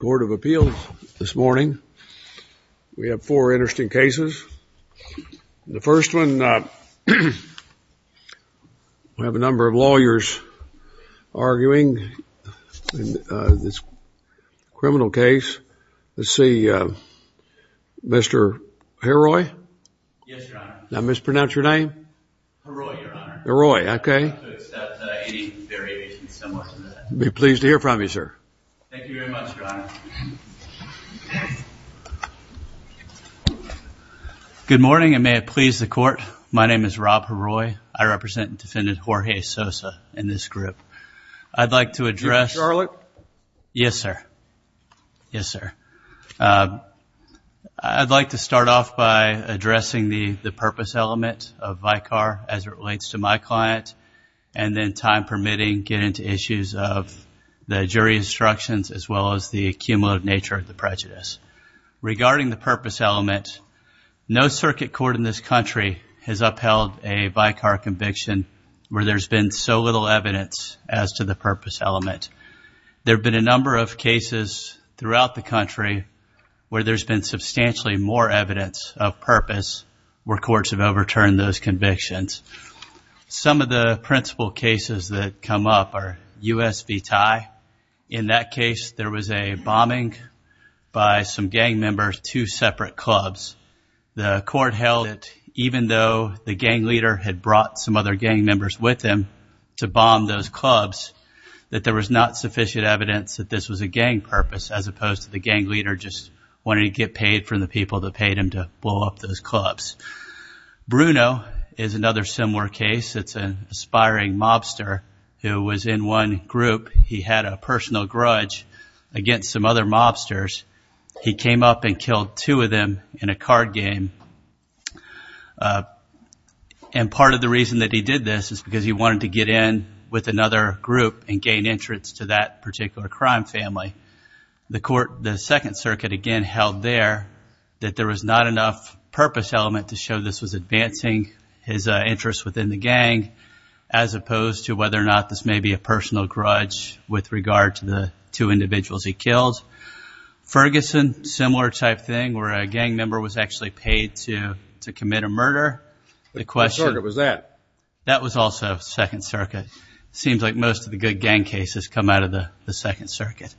Court of Appeals. This morning, we have four interesting cases. The first one, we have a number of lawyers arguing this criminal case. Let's see. Mr. Heroy. Now mispronounce your name. Heroy. Okay. Be pleased to hear from you, sir. Good morning, and may it please the court. My name is Rob Heroy. I represent Defendant Jorge Sosa in this group. I'd like to address- Mr. Charlotte. Yes, sir. Yes, sir. I'd like to start off by addressing the purpose element of VICAR as it relates to my client, and then time permitting, get into issues of the jury instructions as well as the accumulative nature of the prejudice. Regarding the purpose element, no circuit court in this country has upheld a VICAR conviction where there's been so little evidence as to the purpose element. There have been a number of cases throughout the country where there's been substantially more evidence of purpose where the principle cases that come up are U.S. v. Thai. In that case, there was a bombing by some gang members, two separate clubs. The court held that even though the gang leader had brought some other gang members with him to bomb those clubs, that there was not sufficient evidence that this was a gang purpose as opposed to the gang leader just wanting to get paid from the people that aspiring mobster who was in one group. He had a personal grudge against some other mobsters. He came up and killed two of them in a card game. And part of the reason that he did this is because he wanted to get in with another group and gain entrance to that particular crime family. The court, the Second Circuit, again, held there that there was not enough purpose element to show this was as opposed to whether or not this may be a personal grudge with regard to the two individuals he killed. Ferguson, similar type thing where a gang member was actually paid to commit a murder. The question... What circuit was that? That was also Second Circuit. Seems like most of the good gang cases come out of the Second Circuit.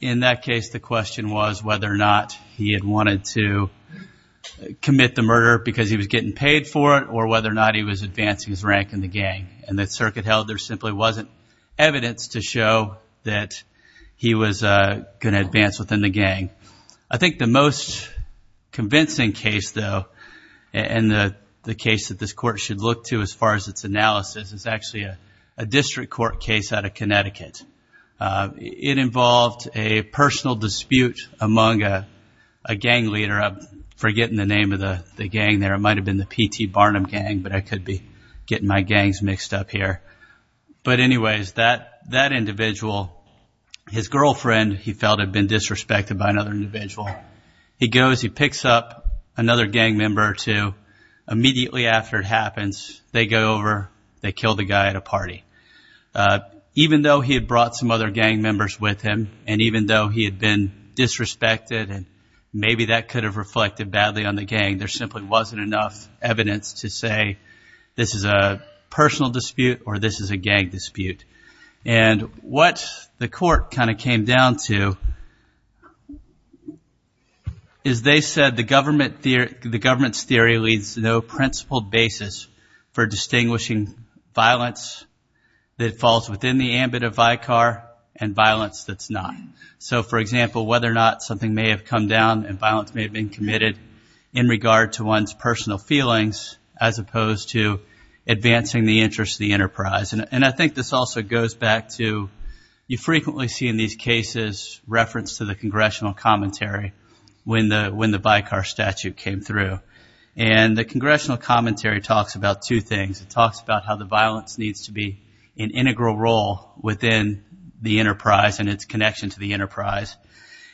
In that case, the question was whether or not he had wanted to commit the murder because he was getting paid for it or whether or not he was advancing his rank in the gang. And the circuit held there simply wasn't evidence to show that he was going to advance within the gang. I think the most convincing case, though, and the case that this court should look to as far as its analysis is actually a district court case out of Connecticut. It involved a personal dispute among a gang leader. I'm forgetting the name of the gang there. It might have been the P.T. Barnum gang, but I could be getting my gangs mixed up here. But anyways, that individual, his girlfriend, he felt had been disrespected by another individual. He goes, he picks up another gang member or two. Immediately after it happens, they go over, they kill the guy at a party. Even though he had brought some other gang members with him and even though he had been disrespected, and maybe that could have reflected badly on the gang, there simply wasn't enough evidence to say this is a personal dispute or this is a gang dispute. And what the court kind of came down to is they said the government's theory leads to no principled basis for distinguishing violence that falls within the ambit of Vicar and violence that's not. So, for example, whether or not something may have come down and violence may have been committed in regard to one's personal feelings as opposed to advancing the interests of the enterprise. And I think this also goes back to you frequently see in these cases reference to the congressional commentary when the Vicar statute came through. And the congressional commentary talks about two things. It talks about how the violence needs to be an integral role within the interests of the enterprise.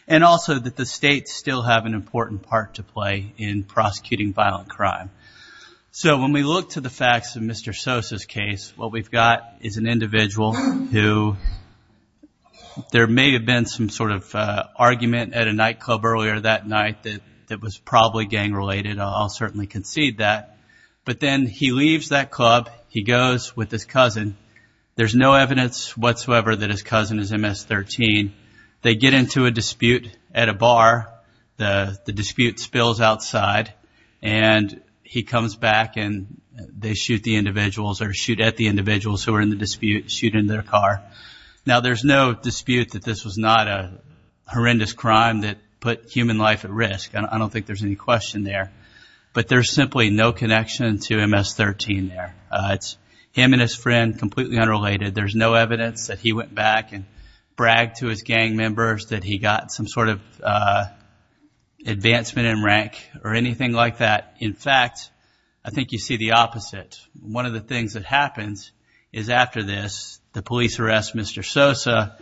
And also that the states still have an important part to play in prosecuting violent crime. So when we look to the facts of Mr. Sosa's case, what we've got is an individual who there may have been some sort of argument at a nightclub earlier that night that was probably gang related. I'll certainly concede that. But then he leaves that club, he goes with his cousin. There's no evidence whatsoever that his cousin is MS-13. They get into a dispute at a bar. The dispute spills outside. And he comes back and they shoot the individuals or shoot at the individuals who are in the dispute, shoot in their car. Now there's no dispute that this was not a horrendous crime that put human life at risk. I don't think there's any question there. But there's simply no evidence that he went back and bragged to his gang members that he got some sort of advancement in rank or anything like that. In fact, I think you see the opposite. One of the things that happens is after this, the police arrest Mr. Sosa.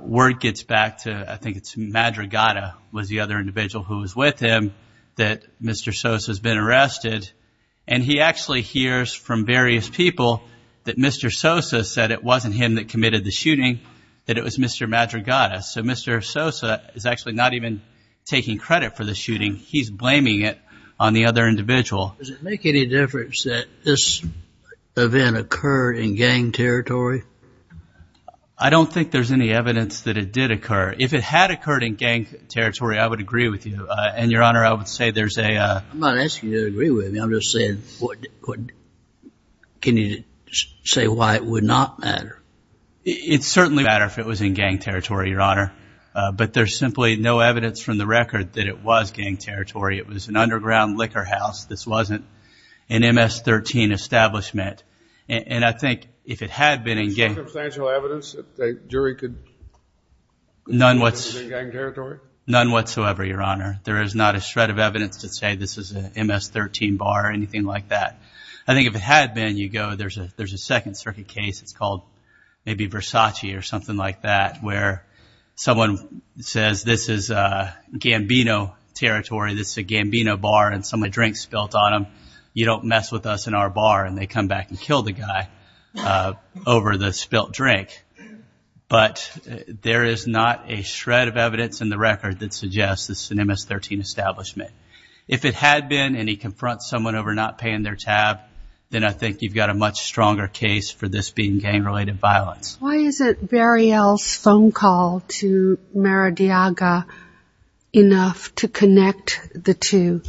Word gets back to, I think it's Madrigada was the other individual who was with him, that Mr. Sosa's been arrested. And he actually hears from various people that Mr. Sosa said it wasn't him that committed the shooting, that it was Mr. Madrigada. So Mr. Sosa is actually not even taking credit for the shooting. He's blaming it on the other individual. Does it make any difference that this event occurred in gang territory? I don't think there's any with you. And Your Honor, I would say there's a... I'm not asking you to agree with me. I'm just saying, can you say why it would not matter? It certainly wouldn't matter if it was in gang territory, Your Honor. But there's simply no evidence from the record that it was gang territory. It was an underground liquor house. This wasn't an MS-13 establishment. And I think if it had been in gang... Is there none whatsoever, Your Honor? There is not a shred of evidence to say this is an MS-13 bar or anything like that. I think if it had been, you go, there's a Second Circuit case, it's called maybe Versace or something like that, where someone says this is Gambino territory, this is a Gambino bar and someone drinks spilt on them. You don't mess with us in our bar. And they come back and kill the guy over the spilt drink. But there is not a shred of evidence in the record that suggests this is an MS-13 establishment. If it had been and he confronts someone over not paying their tab, then I think you've got a much stronger case for this being gang-related violence. Why isn't Barry L's phone call to Maradiaga enough to connect the two?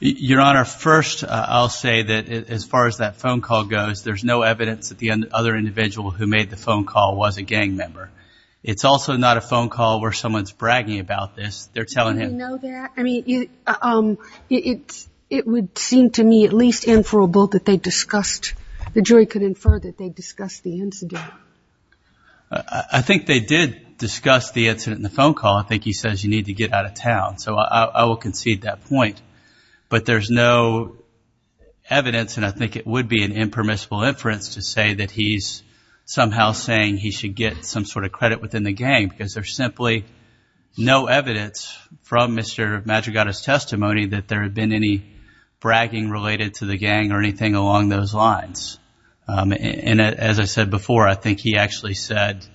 Your Honor, first, I'll say that as far as that phone call goes, there's no evidence that the other individual who made the phone call was a gang member. It's also not a phone call where someone's bragging about this. They're telling him... Do you know that? I mean, it would seem to me at least inferable that they discussed, the jury could infer that they discussed the incident. I think they did discuss the incident in the phone call. I think he says you need to get out of town. So I will concede that point. But there's no evidence and I think it would be an impermissible inference to say that he's somehow saying he should get some sort of credit within the gang because there's simply no evidence from Mr. Madrigada's testimony that there had been any bragging related to the gang or anything along those lines. And as I said before, I think he actually said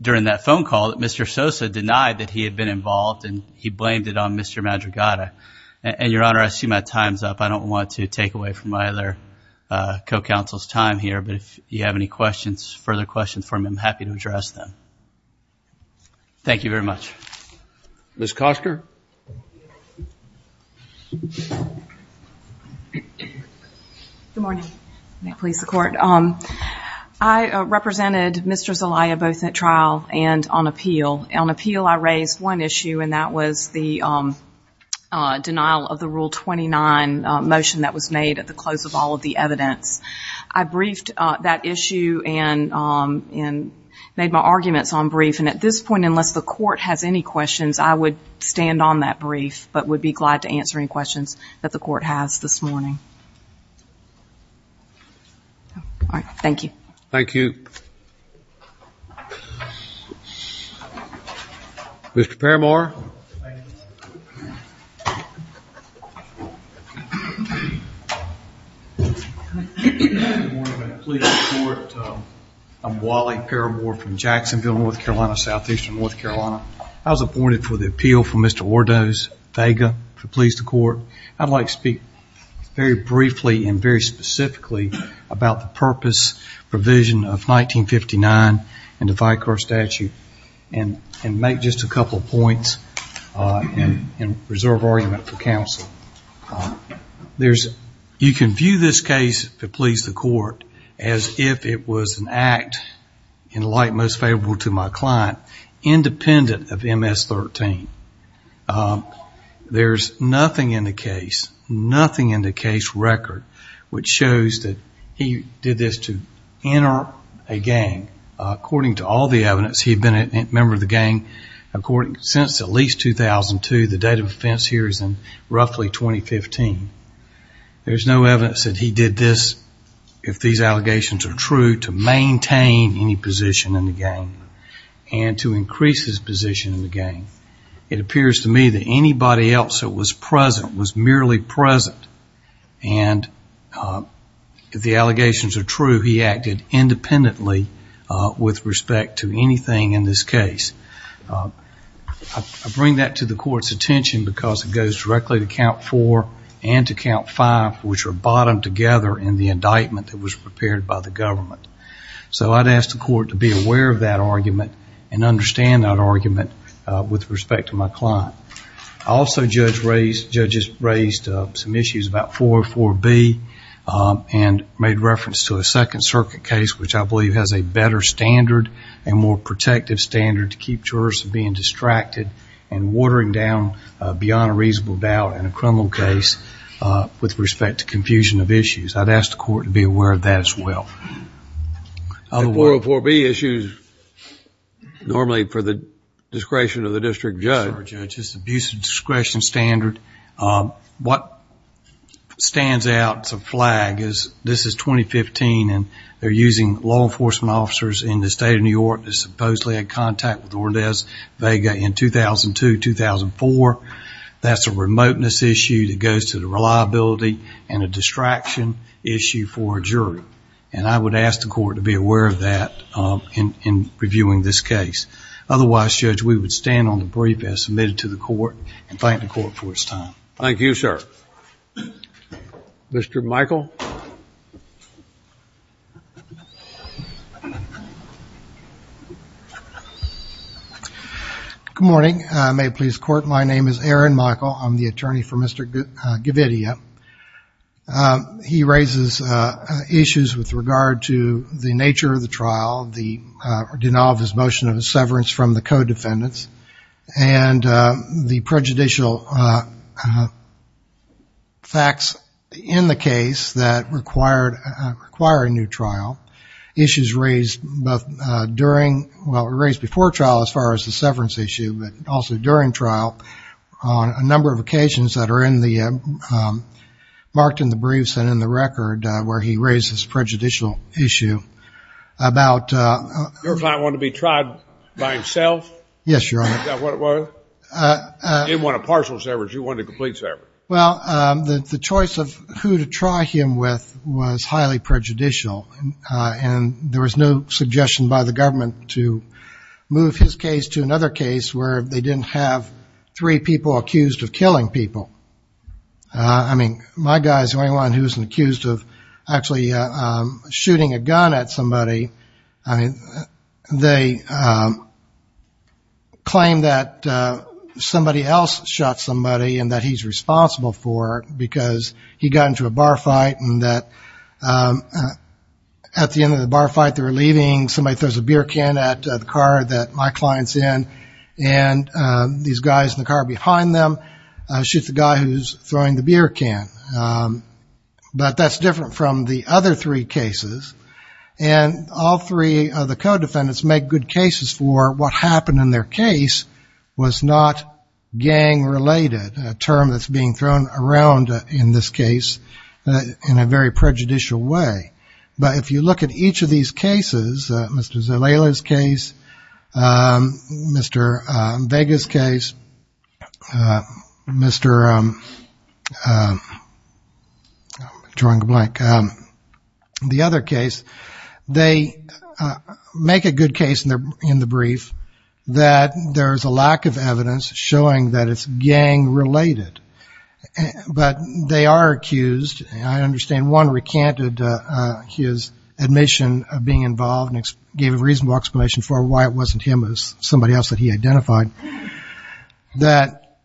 during that phone call that Mr. Sosa denied that he had been involved and he blamed it on Mr. Madrigada. And Your Honor, I see my time's up. I don't want to take away from my other co-counsel's time here, but if you have any questions, further questions for me, I'm happy to address them. Thank you very much. Ms. Coster? Good morning. May it please the Court. I represented Mr. Zelaya both at trial and on appeal. On appeal, I raised one issue and that was the denial of the Rule 29 motion that was made at the close of all of the evidence. I briefed that issue and made my arguments on brief. And at this point, unless the Court has any questions, I would stand on that brief but would be glad to answer any questions that the Court has this morning. All right. Thank you. Thank you. Mr. Parramore? Good morning. May it please the Court. I'm Wally Parramore from Jacksonville, North Carolina, Southeastern North Carolina. I was appointed for the appeal for Mr. Ordos Vega to please the Court. I'd like to speak very briefly and very specifically about the purpose, provision of 1959 and the Vicar Statute and make just a couple of points and reserve argument for counsel. You can view this case to please the Court as if it was an act in light most favorable to my client independent of MS-13. There's nothing in the case, nothing in the case record, which shows that he did this to enter a gang. According to all the evidence, he'd been a member of the gang since at least 2002. The date of offense here is in roughly 2015. There's no evidence that he did this, if these allegations are true, to maintain any position in the gang and to increase his position in the gang. It appears to me that anybody else that was present was merely present and if the allegations are true, he acted independently with respect to anything in this case. I bring that to the Court's attention because it goes directly to count four and to count five, which are bottomed together in the indictment that was prepared by the government. So I'd ask the Court to be aware of that argument and understand that argument with respect to my client. Also, judges raised some issues about 404B and made reference to a Second Circuit case, which I believe has a better standard and more protective standard to keep jurors from being distracted and watering down beyond a reasonable doubt in a criminal case with respect to confusion of issues. I'd ask the Court to be aware of that as well. The 404B issue is normally for the discretion of the district judge. It's a discretion standard. What stands out as a flag is this is 2015 and they're using law enforcement officers in the state of New York that supposedly had contact with Ordez Vega in 2002-2004. That's a remoteness issue that goes to the reliability and a distraction issue for a jury. And I would ask the Court to be aware of that in reviewing this case. Otherwise, Judge, we would stand on the brief as submitted to the Court and thank the Court for its time. Thank you, sir. Mr. Michael. Good morning. May it please the Court, my name is Aaron Michael. I'm the attorney for Mr. Gavidia. He raises issues with regard to the nature of the trial, the denial of his motion of severance from the co-defendants, and the prejudicial facts in the case that require a new trial. Issues raised before trial as far as the severance issue, but also during trial on a number of occasions that are marked in the briefs and in the record where he raises prejudicial issue about Your client wanted to be tried by himself? Yes, Your Honor. He didn't want a partial severance. He wanted a complete severance. Well, the choice of who to try him with was highly prejudicial. And there was no suggestion by the government to move his case to another case where they didn't have three people accused of killing people. I mean, my guys, anyone who's accused of actually shooting a gun at somebody, I mean, they claim that somebody else shot somebody and that he's responsible for it because he got into a bar fight and that at the end of the bar fight they were leaving, somebody throws a beer can at the car that my client's in, and these guys in the car behind them shoot the guy who's throwing the beer can. But that's different from the other three cases. And all three of the co-defendants make good cases for what happened in their case was not gang-related, a term that's being thrown around in this case in a very prejudicial way. But if you look at each of these cases, Mr. Zalela's case, Mr. Vega's case, Mr. I'm drawing a blank, the other case, they make a good case in the brief that there's a lack of evidence showing that it's gang-related. But they are accused, and I understand one recanted his admission of being involved and gave a reasonable explanation for why it wasn't him, it was somebody else that he identified, that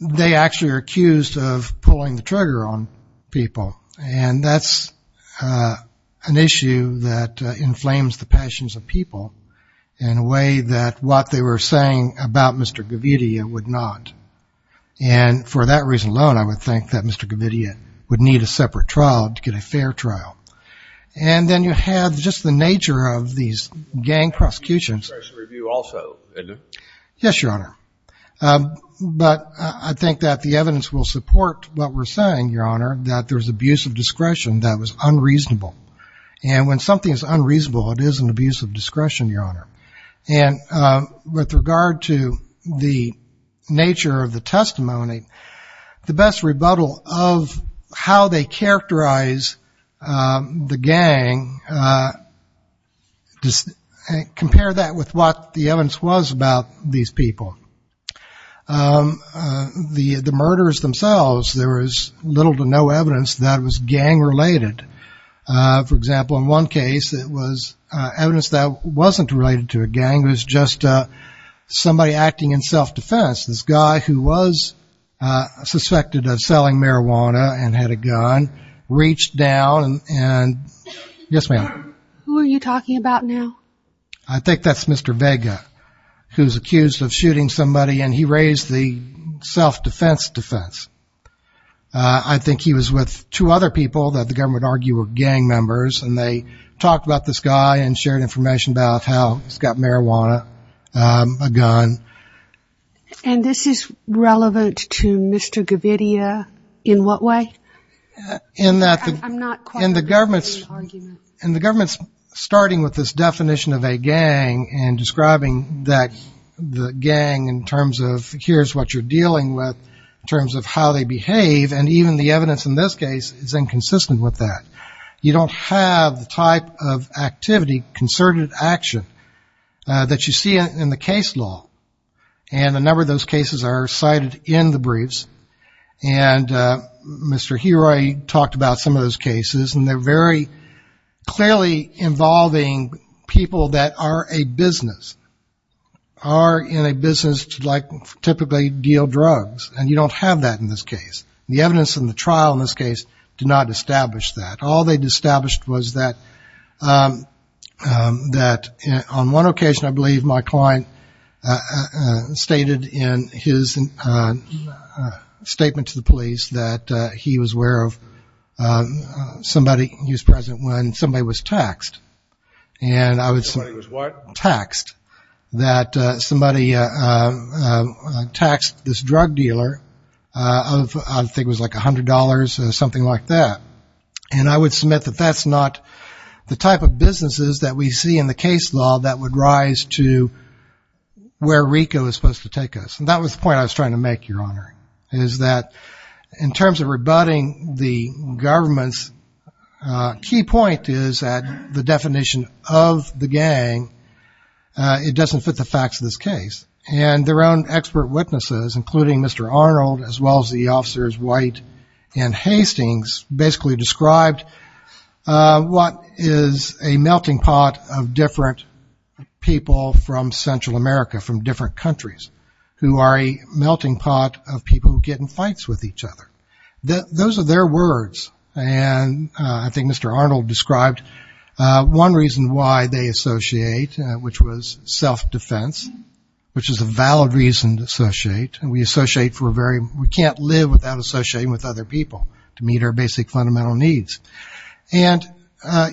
they actually are accused of pulling the trigger on people. And that's an issue that inflames the passions of people in a way that what they were saying about Mr. Govidia would not. And for that reason alone, I would think that Mr. Govidia would need a separate trial to get a fair trial. And then you have just the nature of these gang prosecutions. But I think that the evidence will support what we're saying, Your Honor, that there's abuse of discretion that was unreasonable. And when something is unreasonable, it is an abuse of discretion, Your Honor. And with regard to the nature of the testimony, the best rebuttal of how they characterize the gang, compare that with what the evidence was about these people. The murders themselves, there was little to no evidence that it was gang-related. For example, in one case, it was evidence that wasn't related to a gang. It was just somebody acting in self-defense. This guy who was suspected of selling marijuana and had a gun reached down and, yes, ma'am? Who are you talking about now? I think that's Mr. Vega, who's accused of shooting somebody, and he raised the self-defense defense. I think he was with two other people that the government argued were gang members, and they talked about this guy and shared information about how he's got marijuana, a gun. And this is relevant to Mr. Govidia in what way? In that the government's starting with this definition of a gang and describing that the gang in terms of here's what you're dealing with, in terms of how they behave, and even the evidence in this case is inconsistent with that. You don't have the type of activity, concerted action, that you see in the case law. And a number of those cases are cited in the briefs. And Mr. Heroi talked about some of those cases, and they're very clearly involving people that are a business, are in a business to typically deal drugs, and you don't have that in this case. The evidence in the trial in this case did not establish that. All they established was that on one occasion, I believe, my client stated in his statement to the police that he was aware of somebody. He was present when somebody was taxed. Somebody was what? Taxed. That somebody taxed this drug dealer of I think it was like $100, something like that. And I would submit that that's not the type of businesses that we see in the case law that would rise to where RICO is supposed to take us. And that was the point I was trying to make, Your Honor, is that in terms of rebutting the government's key point is that the definition of the gang, it doesn't fit the facts of this case. And their own expert witnesses, including Mr. Arnold, as well as the officers White and Hastings, basically described what is a melting pot of different people from Central America, from different countries, who are a melting pot of people who get in fights with each other. Those are their words. And I think Mr. Arnold described one reason why they associate, which was self-defense, which is a valid reason to associate. And we associate for a very, we can't live without associating with other people to meet our basic fundamental needs. And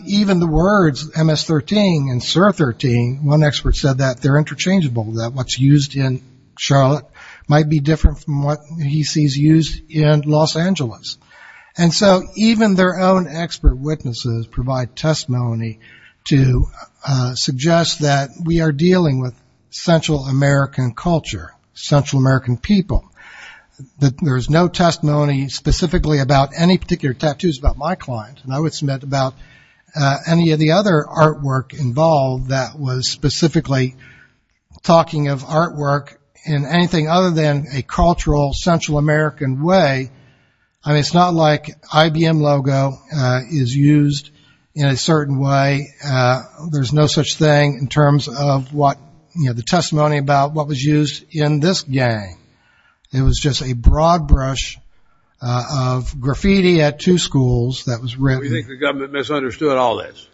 even the words MS-13 and SIR-13, one expert said that they're interchangeable, that what's used in Charlotte might be different from what he sees used in Los Angeles. And so even their own expert witnesses provide testimony to suggest that we are dealing with Central American culture, Central American people, that there is no testimony specifically about any particular tattoos about my client. And I would submit about any of the other artwork involved that was specifically talking of artwork in anything other than a cultural Central American way. I mean, it's not like IBM logo is used in a certain way. There's no such thing in terms of what, you know, the testimony about what was used in this gang. It was just a broad brush of graffiti at two schools that was written. Do you think the government misunderstood all this?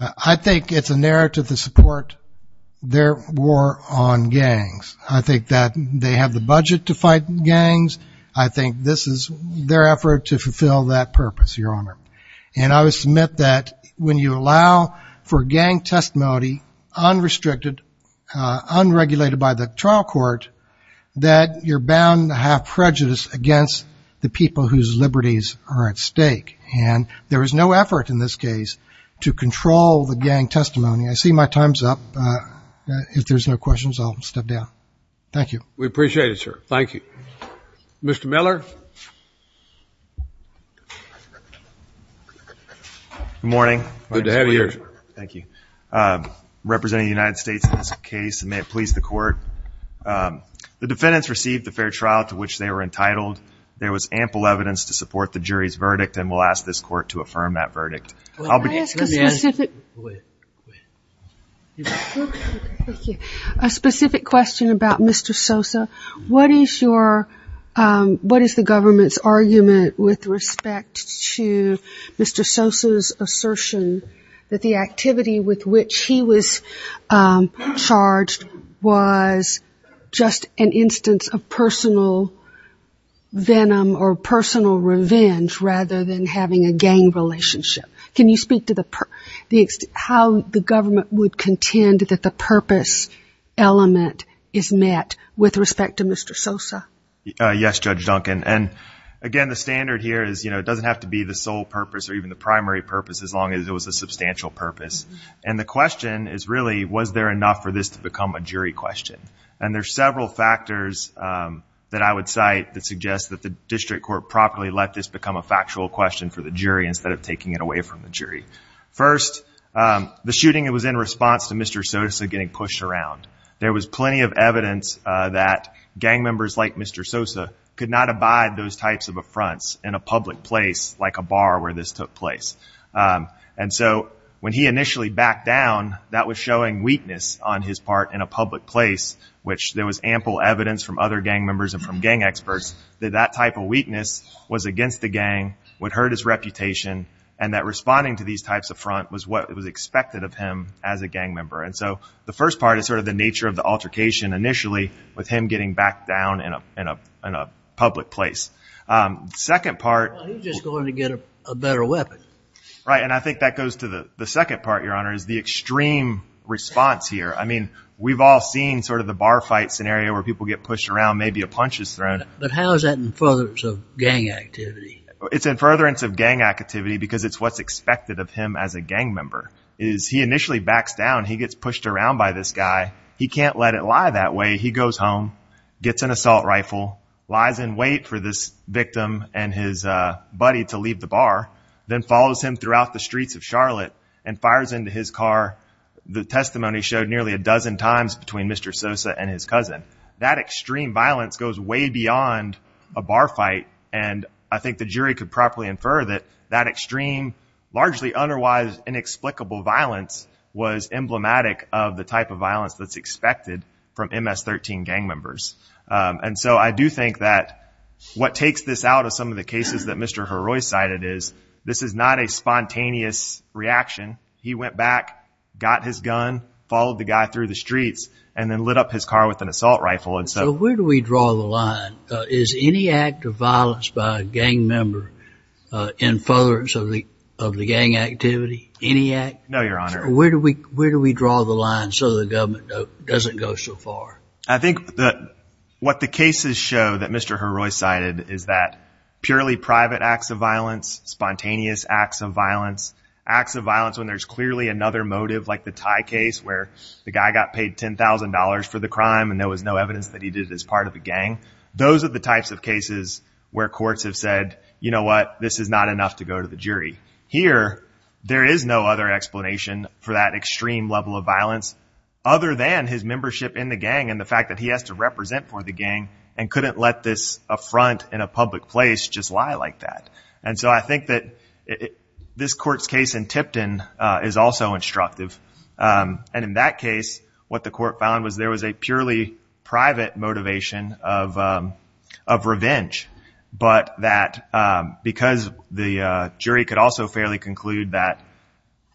I think it's a narrative to support their war on gangs. I think that they have the budget to fight gangs. I think this is their effort to fulfill that purpose, Your Honor. And I would submit that when you allow for gang testimony unrestricted, unregulated by the trial court, that you're bound to have prejudice against the people whose liberties are at stake. And there is no effort in this case to control the gang testimony. I see my time's up. If there's no questions, I'll step down. Thank you. We appreciate it, sir. Thank you. Mr. Miller. Good morning. Good to have you here. Thank you. I'm representing the United States in this case, and may it please the court. The defendants received the fair trial to which they were entitled. There was ample evidence to support the jury's verdict, and we'll ask this court to affirm that verdict. Can I ask a specific question about Mr. Sosa? What is the government's argument with respect to Mr. Sosa's assertion that the activity with which he was charged was just an instance of personal venom or personal revenge rather than having a gang relationship? Can you speak to how the government would contend that the purpose element is met with respect to Mr. Sosa? Yes, Judge Duncan. And, again, the standard here is, you know, it doesn't have to be the sole purpose or even the primary purpose as long as it was a substantial purpose. And the question is really, was there enough for this to become a jury question? And there are several factors that I would cite that suggest that the district court properly let this become a factual question for the jury instead of taking it away from the jury. First, the shooting, it was in response to Mr. Sosa getting pushed around. There was plenty of evidence that gang members like Mr. Sosa could not abide those types of affronts in a public place, like a bar where this took place. And so when he initially backed down, that was showing weakness on his part in a public place, which there was ample evidence from other gang members and from gang experts that that type of weakness was against the gang, would hurt his reputation, and that responding to these types of affront was what was expected of him as a gang member. And so the first part is sort of the nature of the altercation initially with him getting backed down in a public place. Well, he was just going to get a better weapon. Right, and I think that goes to the second part, Your Honor, is the extreme response here. I mean, we've all seen sort of the bar fight scenario where people get pushed around, maybe a punch is thrown. But how is that in furtherance of gang activity? It's in furtherance of gang activity because it's what's expected of him as a gang member. He initially backs down. He gets pushed around by this guy. He can't let it lie that way. He goes home, gets an assault rifle, lies in wait for this victim and his buddy to leave the bar, then follows him throughout the streets of Charlotte and fires into his car. The testimony showed nearly a dozen times between Mr. Sosa and his cousin. That extreme violence goes way beyond a bar fight, and I think the jury could properly infer that that extreme, largely otherwise inexplicable violence was emblematic of the type of violence that's expected from MS-13 gang members. And so I do think that what takes this out of some of the cases that Mr. Heroy cited is this is not a spontaneous reaction. He went back, got his gun, followed the guy through the streets, and then lit up his car with an assault rifle. So where do we draw the line? Is any act of violence by a gang member in furtherance of the gang activity? Any act? No, Your Honor. Where do we draw the line so the government doesn't go so far? I think that what the cases show that Mr. Heroy cited is that purely private acts of violence, spontaneous acts of violence, acts of violence when there's clearly another motive like the Thai case where the guy got paid $10,000 for the crime and there was no evidence that he did it as part of a gang, those are the types of cases where courts have said, you know what, this is not enough to go to the jury. Here, there is no other explanation for that extreme level of violence other than his membership in the gang and the fact that he has to represent for the gang and couldn't let this affront in a public place just lie like that. And so I think that this court's case in Tipton is also instructive. And in that case, what the court found was there was a purely private motivation of revenge, but that because the jury could also fairly conclude that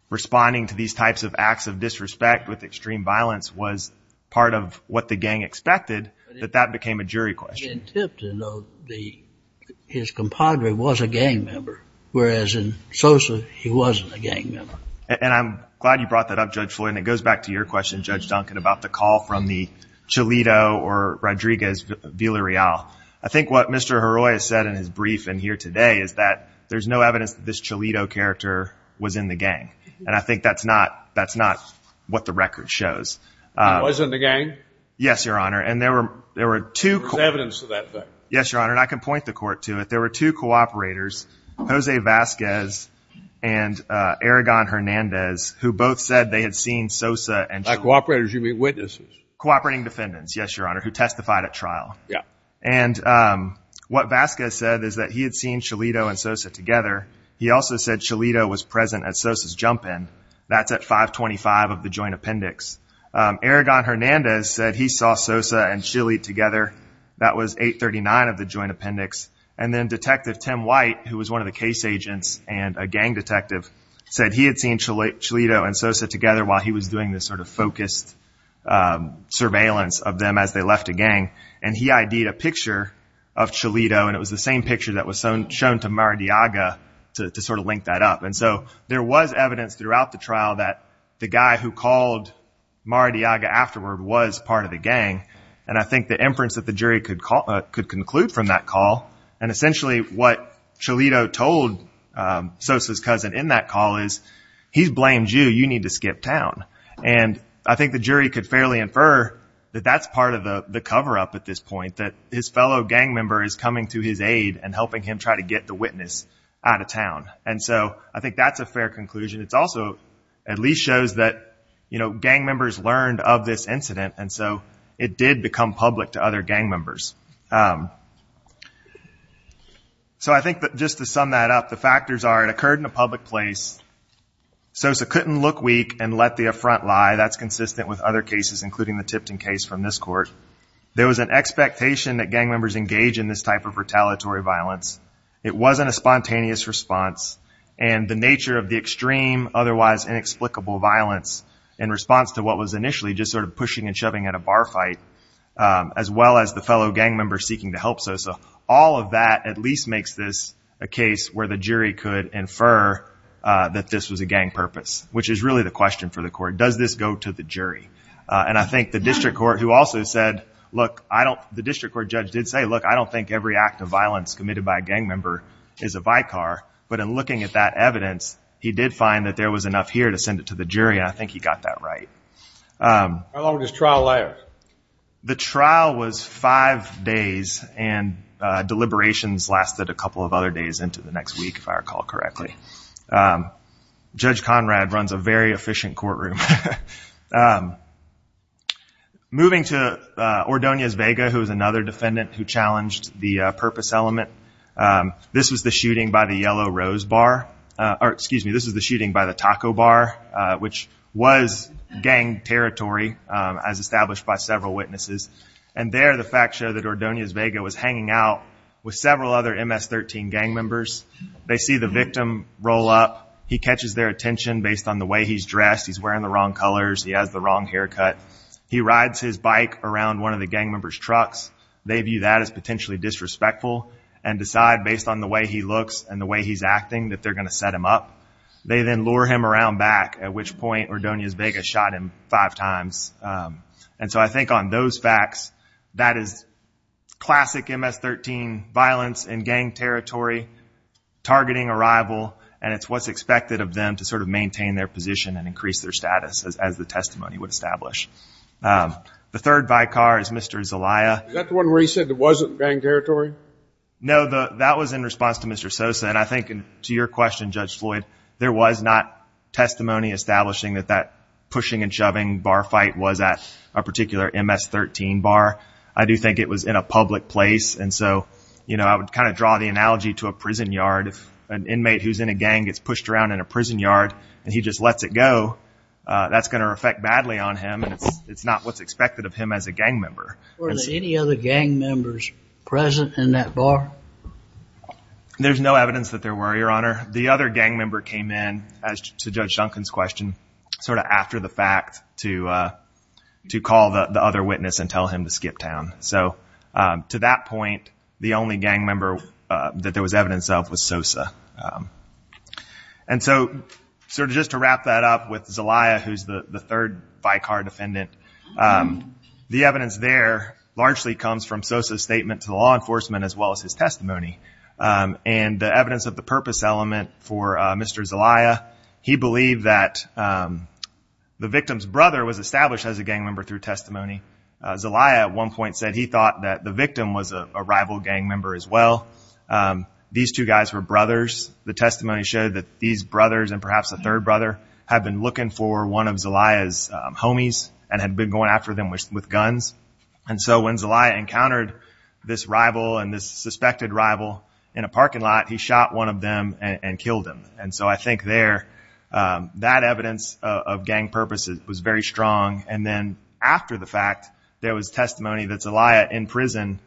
responding to these types of acts of disrespect with extreme violence was part of what the gang expected, that that became a jury question. In Tipton, though, his compadre was a gang member, whereas in Sosa, he wasn't a gang member. And I'm glad you brought that up, Judge Floyd, and it goes back to your question, Judge Duncan, about the call from the Cholito or Rodriguez Villarreal. I think what Mr. Haroy has said in his brief in here today is that there's no evidence that this Cholito character was in the gang, and I think that's not what the record shows. He wasn't a gang? Yes, Your Honor, and there were two – There was evidence of that fact. Yes, Your Honor, and I can point the court to it. There were two cooperators, Jose Vasquez and Aragon Hernandez, who both said they had seen Sosa and Cholito. By cooperators, you mean witnesses? Cooperating defendants, yes, Your Honor, who testified at trial. Yeah. And what Vasquez said is that he had seen Cholito and Sosa together. He also said Cholito was present at Sosa's jump-in. That's at 525 of the joint appendix. Aragon Hernandez said he saw Sosa and Cholito together. That was 839 of the joint appendix. And then Detective Tim White, who was one of the case agents and a gang detective, said he had seen Cholito and Sosa together while he was doing this sort of focused surveillance of them as they left a gang, and he ID'd a picture of Cholito, and it was the same picture that was shown to Maradiaga to sort of link that up. And so there was evidence throughout the trial that the guy who called Maradiaga afterward was part of the gang, and I think the inference that the jury could conclude from that call, and essentially what Cholito told Sosa's cousin in that call is, he's blamed you, you need to skip town. And I think the jury could fairly infer that that's part of the cover-up at this point, that his fellow gang member is coming to his aid and helping him try to get the witness out of town. And so I think that's a fair conclusion. It also at least shows that, you know, gang members learned of this incident, and so it did become public to other gang members. So I think that just to sum that up, the factors are it occurred in a public place. Sosa couldn't look weak and let the affront lie. That's consistent with other cases, including the Tipton case from this court. There was an expectation that gang members engage in this type of retaliatory violence. It wasn't a spontaneous response, and the nature of the extreme, otherwise inexplicable violence in response to what was initially just sort of pushing and shoving at a bar fight, as well as the fellow gang member seeking to help Sosa. All of that at least makes this a case where the jury could infer that this was a gang purpose, which is really the question for the court. Does this go to the jury? And I think the district court who also said, look, the district court judge did say, look, I don't think every act of violence committed by a gang member is a vicar. But in looking at that evidence, he did find that there was enough here to send it to the jury, and I think he got that right. How long was his trial there? The trial was five days, and deliberations lasted a couple of other days into the next week, if I recall correctly. Judge Conrad runs a very efficient courtroom. Moving to Ordonez Vega, who was another defendant who challenged the purpose element, this was the shooting by the Yellow Rose Bar. Or excuse me, this was the shooting by the Taco Bar, which was gang territory, as established by several witnesses. And there the facts show that Ordonez Vega was hanging out with several other MS-13 gang members. They see the victim roll up. He catches their attention based on the way he's dressed. He's wearing the wrong colors. He has the wrong haircut. He rides his bike around one of the gang members' trucks. They view that as potentially disrespectful and decide, based on the way he looks and the way he's acting, that they're going to set him up. They then lure him around back, at which point Ordonez Vega shot him five times. And so I think on those facts, that is classic MS-13 violence in gang territory, targeting a rival, and it's what's expected of them to sort of maintain their position and increase their status, as the testimony would establish. The third vicar is Mr. Zelaya. Is that the one where he said it wasn't gang territory? No, that was in response to Mr. Sosa. And I think to your question, Judge Floyd, there was not testimony establishing that that pushing and shoving bar fight was at a particular MS-13 bar. I do think it was in a public place. And so, you know, I would kind of draw the analogy to a prison yard. If an inmate who's in a gang gets pushed around in a prison yard and he just lets it go, that's going to affect badly on him, and it's not what's expected of him as a gang member. Were there any other gang members present in that bar? There's no evidence that there were, Your Honor. The other gang member came in, as to Judge Duncan's question, sort of after the fact to call the other witness and tell him to skip town. So to that point, the only gang member that there was evidence of was Sosa. And so sort of just to wrap that up with Zelaya, who's the third vicar defendant, the evidence there largely comes from Sosa's statement to law enforcement as well as his testimony. And the evidence of the purpose element for Mr. Zelaya, he believed that the victim's brother was established as a gang member through testimony. Zelaya at one point said he thought that the victim was a rival gang member as well. These two guys were brothers. The testimony showed that these brothers and perhaps a third brother had been looking for one of Zelaya's homies and had been going after them with guns. And so when Zelaya encountered this rival and this suspected rival in a parking lot, he shot one of them and killed him. And so I think there, that evidence of gang purposes was very strong. And then after the fact, there was testimony that Zelaya in prison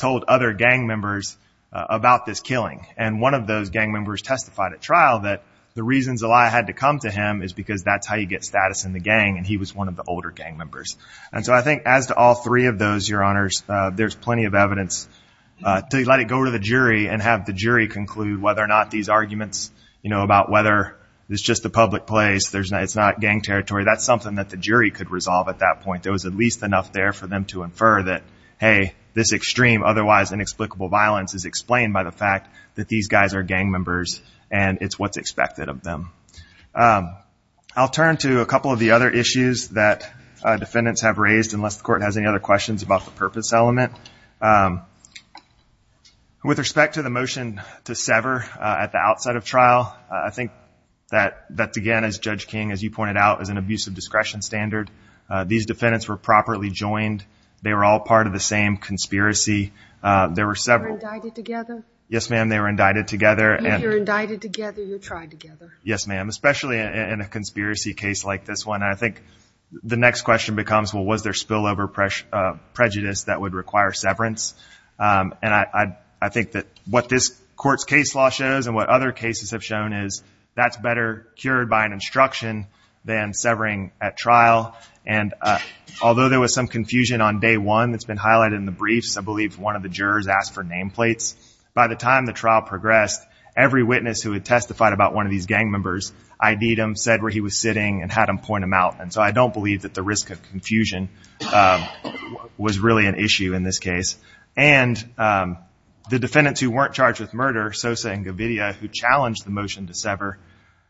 told other gang members about this killing. And one of those gang members testified at trial that the reasons Zelaya had to come to him is because that's how you get status in the gang, and he was one of the older gang members. And so I think as to all three of those, Your Honors, there's plenty of evidence to let it go to the jury and have the jury conclude whether or not these arguments, you know, about whether it's just a public place, it's not gang territory, that's something that the jury could resolve at that point. There was at least enough there for them to infer that, hey, this extreme, otherwise inexplicable violence is explained by the fact that these guys are gang members, and it's what's expected of them. I'll turn to a couple of the other issues that defendants have raised, unless the Court has any other questions about the purpose element. With respect to the motion to sever at the outside of trial, I think that, again, as Judge King, as you pointed out, is an abuse of discretion standard. These defendants were properly joined. They were all part of the same conspiracy. There were several. You were indicted together? Yes, ma'am, they were indicted together. If you're indicted together, you're tried together. Yes, ma'am, especially in a conspiracy case like this one. I think the next question becomes, well, was there spillover prejudice that would require severance? And I think that what this Court's case law shows and what other cases have shown is that's better cured by an instruction than severing at trial. And although there was some confusion on day one that's been highlighted in the briefs, I believe one of the jurors asked for nameplates. By the time the trial progressed, every witness who had testified about one of these gang members ID'd him, said where he was sitting, and had him point him out. And so I don't believe that the risk of confusion was really an issue in this case. And the defendants who weren't charged with murder, Sosa and Govidia, who challenged the motion to sever,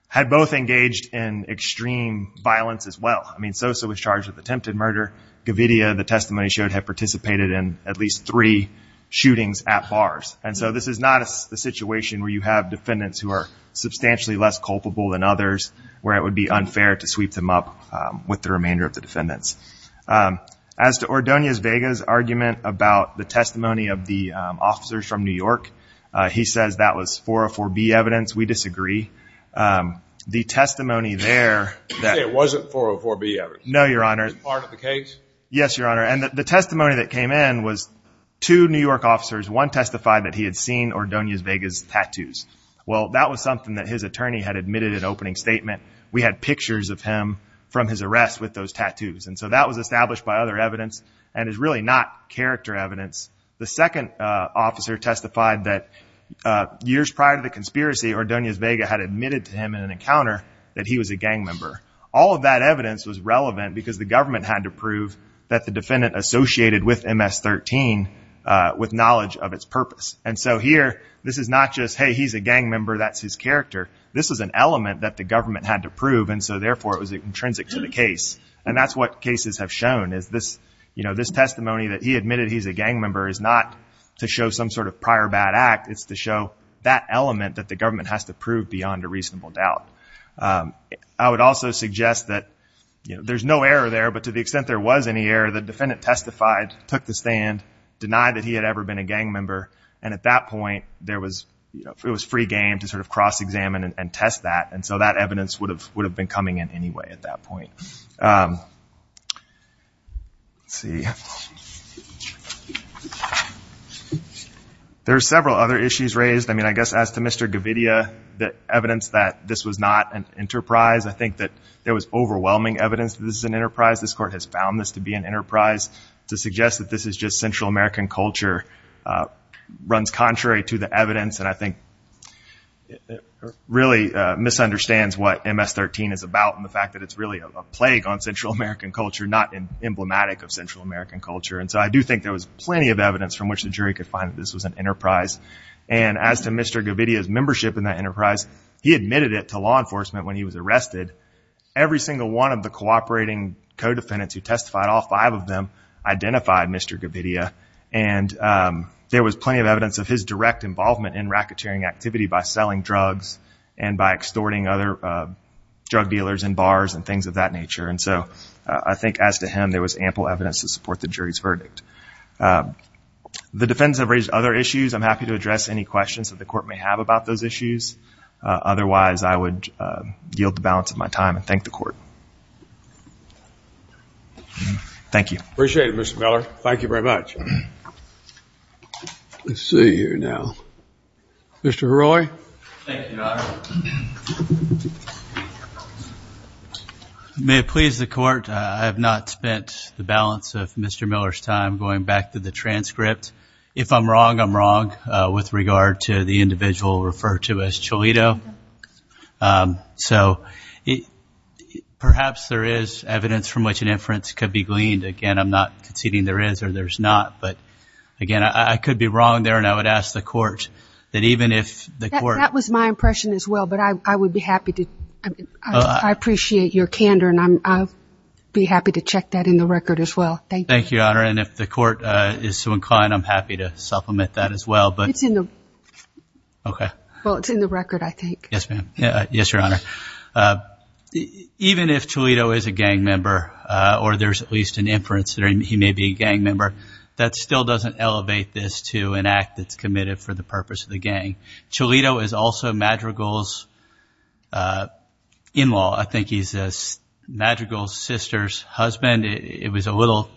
had both engaged in extreme violence as well. I mean, Sosa was charged with attempted murder. Govidia, the testimony showed, had participated in at least three shootings at bars. And so this is not a situation where you have defendants who are substantially less culpable than others, where it would be unfair to sweep them up with the remainder of the defendants. As to Ordonez Vega's argument about the testimony of the officers from New York, he says that was 404B evidence. We disagree. The testimony there that- It wasn't 404B evidence. No, Your Honor. Is part of the case? Yes, Your Honor. And the testimony that came in was two New York officers. One testified that he had seen Ordonez Vega's tattoos. Well, that was something that his attorney had admitted in opening statement. We had pictures of him from his arrest with those tattoos. And so that was established by other evidence, and is really not character evidence. The second officer testified that years prior to the conspiracy, Ordonez Vega had admitted to him in an encounter that he was a gang member. All of that evidence was relevant because the government had to prove that the defendant associated with MS-13 with knowledge of its purpose. And so here, this is not just, hey, he's a gang member, that's his character. This is an element that the government had to prove, and so therefore it was intrinsic to the case. And that's what cases have shown, is this testimony that he admitted he's a gang member is not to show some sort of prior bad act. It's to show that element that the government has to prove beyond a reasonable doubt. I would also suggest that there's no error there, but to the extent there was any error, the defendant testified, took the stand, denied that he had ever been a gang member, and at that point it was free game to sort of cross-examine and test that. And so that evidence would have been coming in anyway at that point. Let's see. There are several other issues raised. I mean, I guess as to Mr. Gavidia, the evidence that this was not an enterprise, I think that there was overwhelming evidence that this was an enterprise. This Court has found this to be an enterprise. To suggest that this is just Central American culture runs contrary to the evidence, and I think really misunderstands what MS-13 is about and the fact that it's really a plague on Central American culture, not emblematic of Central American culture. And so I do think there was plenty of evidence from which the jury could find that this was an enterprise. And as to Mr. Gavidia's membership in that enterprise, he admitted it to law enforcement when he was arrested. Every single one of the cooperating co-defendants who testified, all five of them, identified Mr. Gavidia. And there was plenty of evidence of his direct involvement in racketeering activity by selling drugs and by extorting other drug dealers in bars and things of that nature. And so I think as to him, there was ample evidence to support the jury's verdict. The defendants have raised other issues. I'm happy to address any questions that the Court may have about those issues. Otherwise, I would yield the balance of my time and thank the Court. Thank you. Appreciate it, Mr. Miller. Thank you very much. Let's see here now. Mr. Heroy. Thank you, Your Honor. May it please the Court, I have not spent the balance of Mr. Miller's time going back to the transcript. If I'm wrong, I'm wrong with regard to the individual referred to as Cholito. So perhaps there is evidence from which an inference could be gleaned. Again, I'm not conceding there is or there's not. But, again, I could be wrong there, and I would ask the Court that even if the Court That was my impression as well, but I would be happy to. I appreciate your candor, and I'd be happy to check that in the record as well. Thank you. Thank you, Your Honor. And if the Court is so inclined, I'm happy to supplement that as well. It's in the Okay. Well, it's in the record, I think. Yes, ma'am. Yes, Your Honor. Even if Cholito is a gang member, or there's at least an inference that he may be a gang member, that still doesn't elevate this to an act that's committed for the purpose of the gang. Cholito is also Madrigal's in-law. I think he's Madrigal's sister's husband. It was a little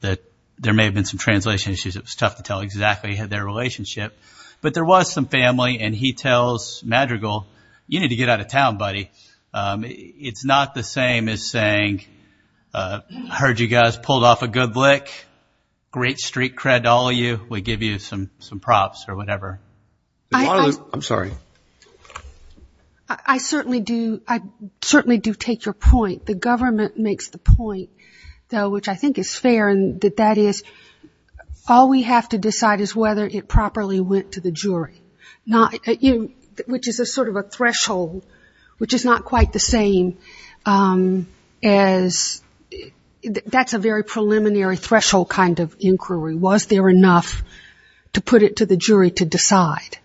that there may have been some translation issues. It was tough to tell exactly their relationship. But there was some family, and he tells Madrigal, you need to get out of town, buddy. It's not the same as saying, heard you guys pulled off a good lick, great street cred to all of you, we give you some props or whatever. I'm sorry. I certainly do take your point. The government makes the point, though, which I think is fair, and that that is all we have to decide is whether it properly went to the jury, which is sort of a threshold, which is not quite the same as that's a very preliminary threshold kind of inquiry. Was there enough to put it to the jury to decide?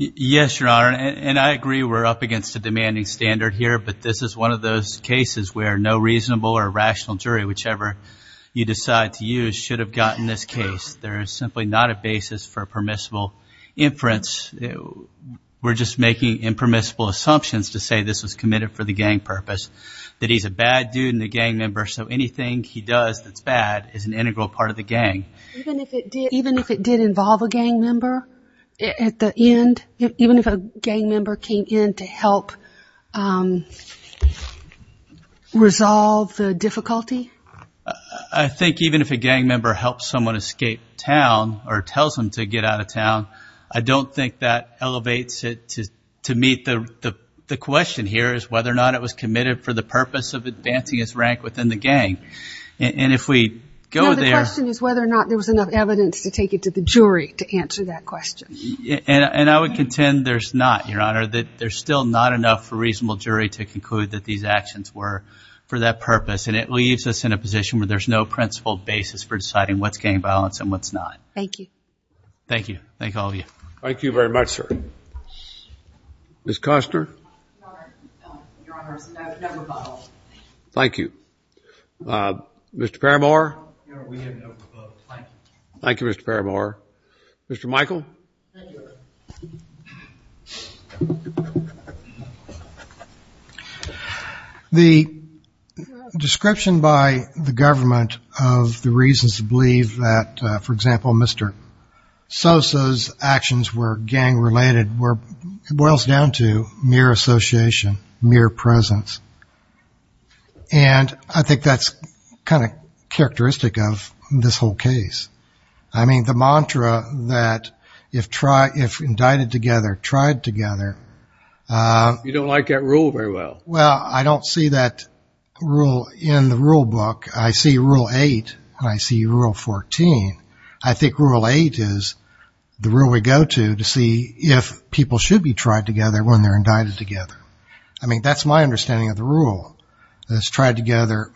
Yes, Your Honor, and I agree we're up against a demanding standard here, but this is one of those cases where no reasonable or rational jury, whichever you decide to use, should have gotten this case. There is simply not a basis for permissible inference. We're just making impermissible assumptions to say this was committed for the gang purpose, that he's a bad dude and a gang member, so anything he does that's bad is an integral part of the gang. Even if it did involve a gang member at the end? Even if a gang member came in to help resolve the difficulty? I think even if a gang member helps someone escape town or tells them to get out of town, I don't think that elevates it to meet the question here, is whether or not it was committed for the purpose of advancing its rank within the gang. No, the question is whether or not there was enough evidence to take it to the jury to answer that question. And I would contend there's not, Your Honor, that there's still not enough for a reasonable jury to conclude that these actions were for that purpose, and it leaves us in a position where there's no principled basis for deciding what's gang violence and what's not. Thank you. Thank you. Thank all of you. Thank you very much, sir. Ms. Koster? Your Honor, no rebuttal. Thank you. Mr. Paramore? No, we have no rebuttal. Thank you. Thank you, Mr. Paramore. Mr. Michael? Thank you, Your Honor. The description by the government of the reasons to believe that, for example, Mr. Sosa's actions were gang-related boils down to mere association, mere presence. And I think that's kind of characteristic of this whole case. I mean, the mantra that if indicted together, tried together. You don't like that rule very well. Well, I don't see that rule in the rule book. I see Rule 8 and I see Rule 14. I think Rule 8 is the rule we go to to see if people should be tried together when they're indicted together. I mean, that's my understanding of the rule, is tried together,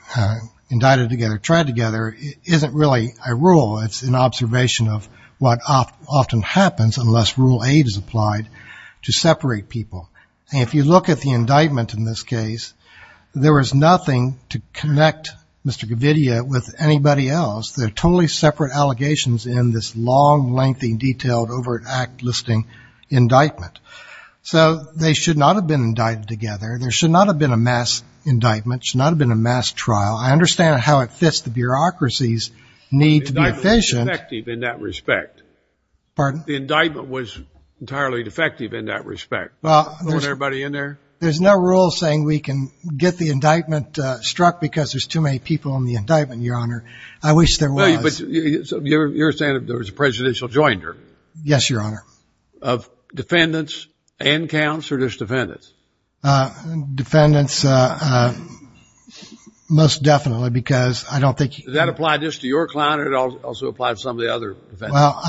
indicted together, tried together. It isn't really a rule. It's an observation of what often happens unless Rule 8 is applied to separate people. And if you look at the indictment in this case, there was nothing to connect Mr. Gavidia with anybody else. They're totally separate allegations in this long, lengthy, detailed, over-act-listing indictment. So they should not have been indicted together. There should not have been a mass indictment. There should not have been a mass trial. I understand how it fits the bureaucracy's need to be efficient. The indictment was defective in that respect. Pardon? The indictment was entirely defective in that respect. Put everybody in there? There's no rule saying we can get the indictment struck because there's too many people in the indictment, Your Honor. I wish there was. But you're saying there was a presidential jointer? Yes, Your Honor. Of defendants and counts or just defendants? Defendants most definitely because I don't think you can. Does that apply just to your client or does it also apply to some of the other defendants? Well,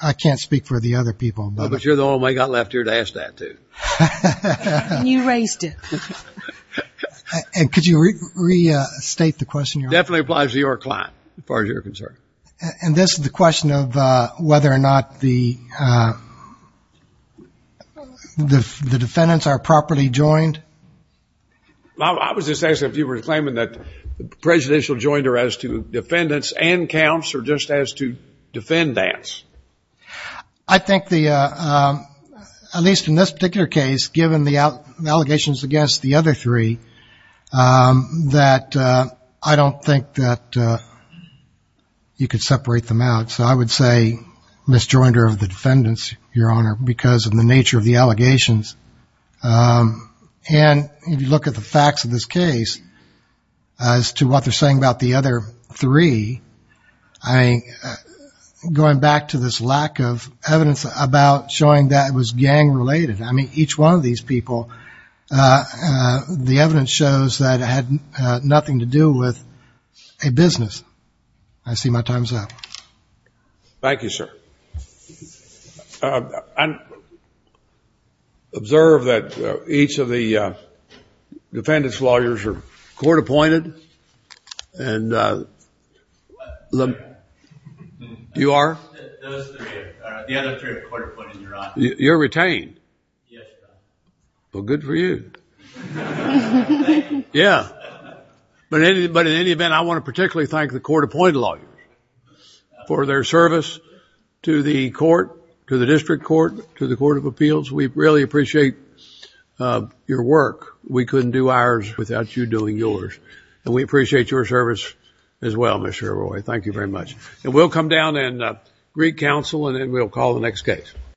I can't speak for the other people. But you're the only one I've got left here to ask that to. You raised it. And could you restate the question, Your Honor? It definitely applies to your client as far as you're concerned. And this is the question of whether or not the defendants are properly joined? I was just asking if you were claiming that the presidential jointer as to defendants and counts or just as to defendants? I think at least in this particular case, given the allegations against the other three, that I don't think that you could separate them out. So I would say misjoinder of the defendants, Your Honor, because of the nature of the allegations. And if you look at the facts of this case as to what they're saying about the other three, I'm going back to this lack of evidence about showing that it was gang-related. I mean, each one of these people, the evidence shows that it had nothing to do with a business. I see my time's up. Thank you, sir. I observe that each of the defendants' lawyers are court-appointed. And you are? Those three are. The other three are court-appointed, Your Honor. You're retained? Yes, Your Honor. Well, good for you. Thank you. But in any event, I want to particularly thank the court-appointed lawyers for their service to the court, to the district court, to the Court of Appeals. We really appreciate your work. We couldn't do ours without you doing yours. And we appreciate your service as well, Mr. Arroyo. Thank you very much. And we'll come down and re-counsel, and then we'll call the next case.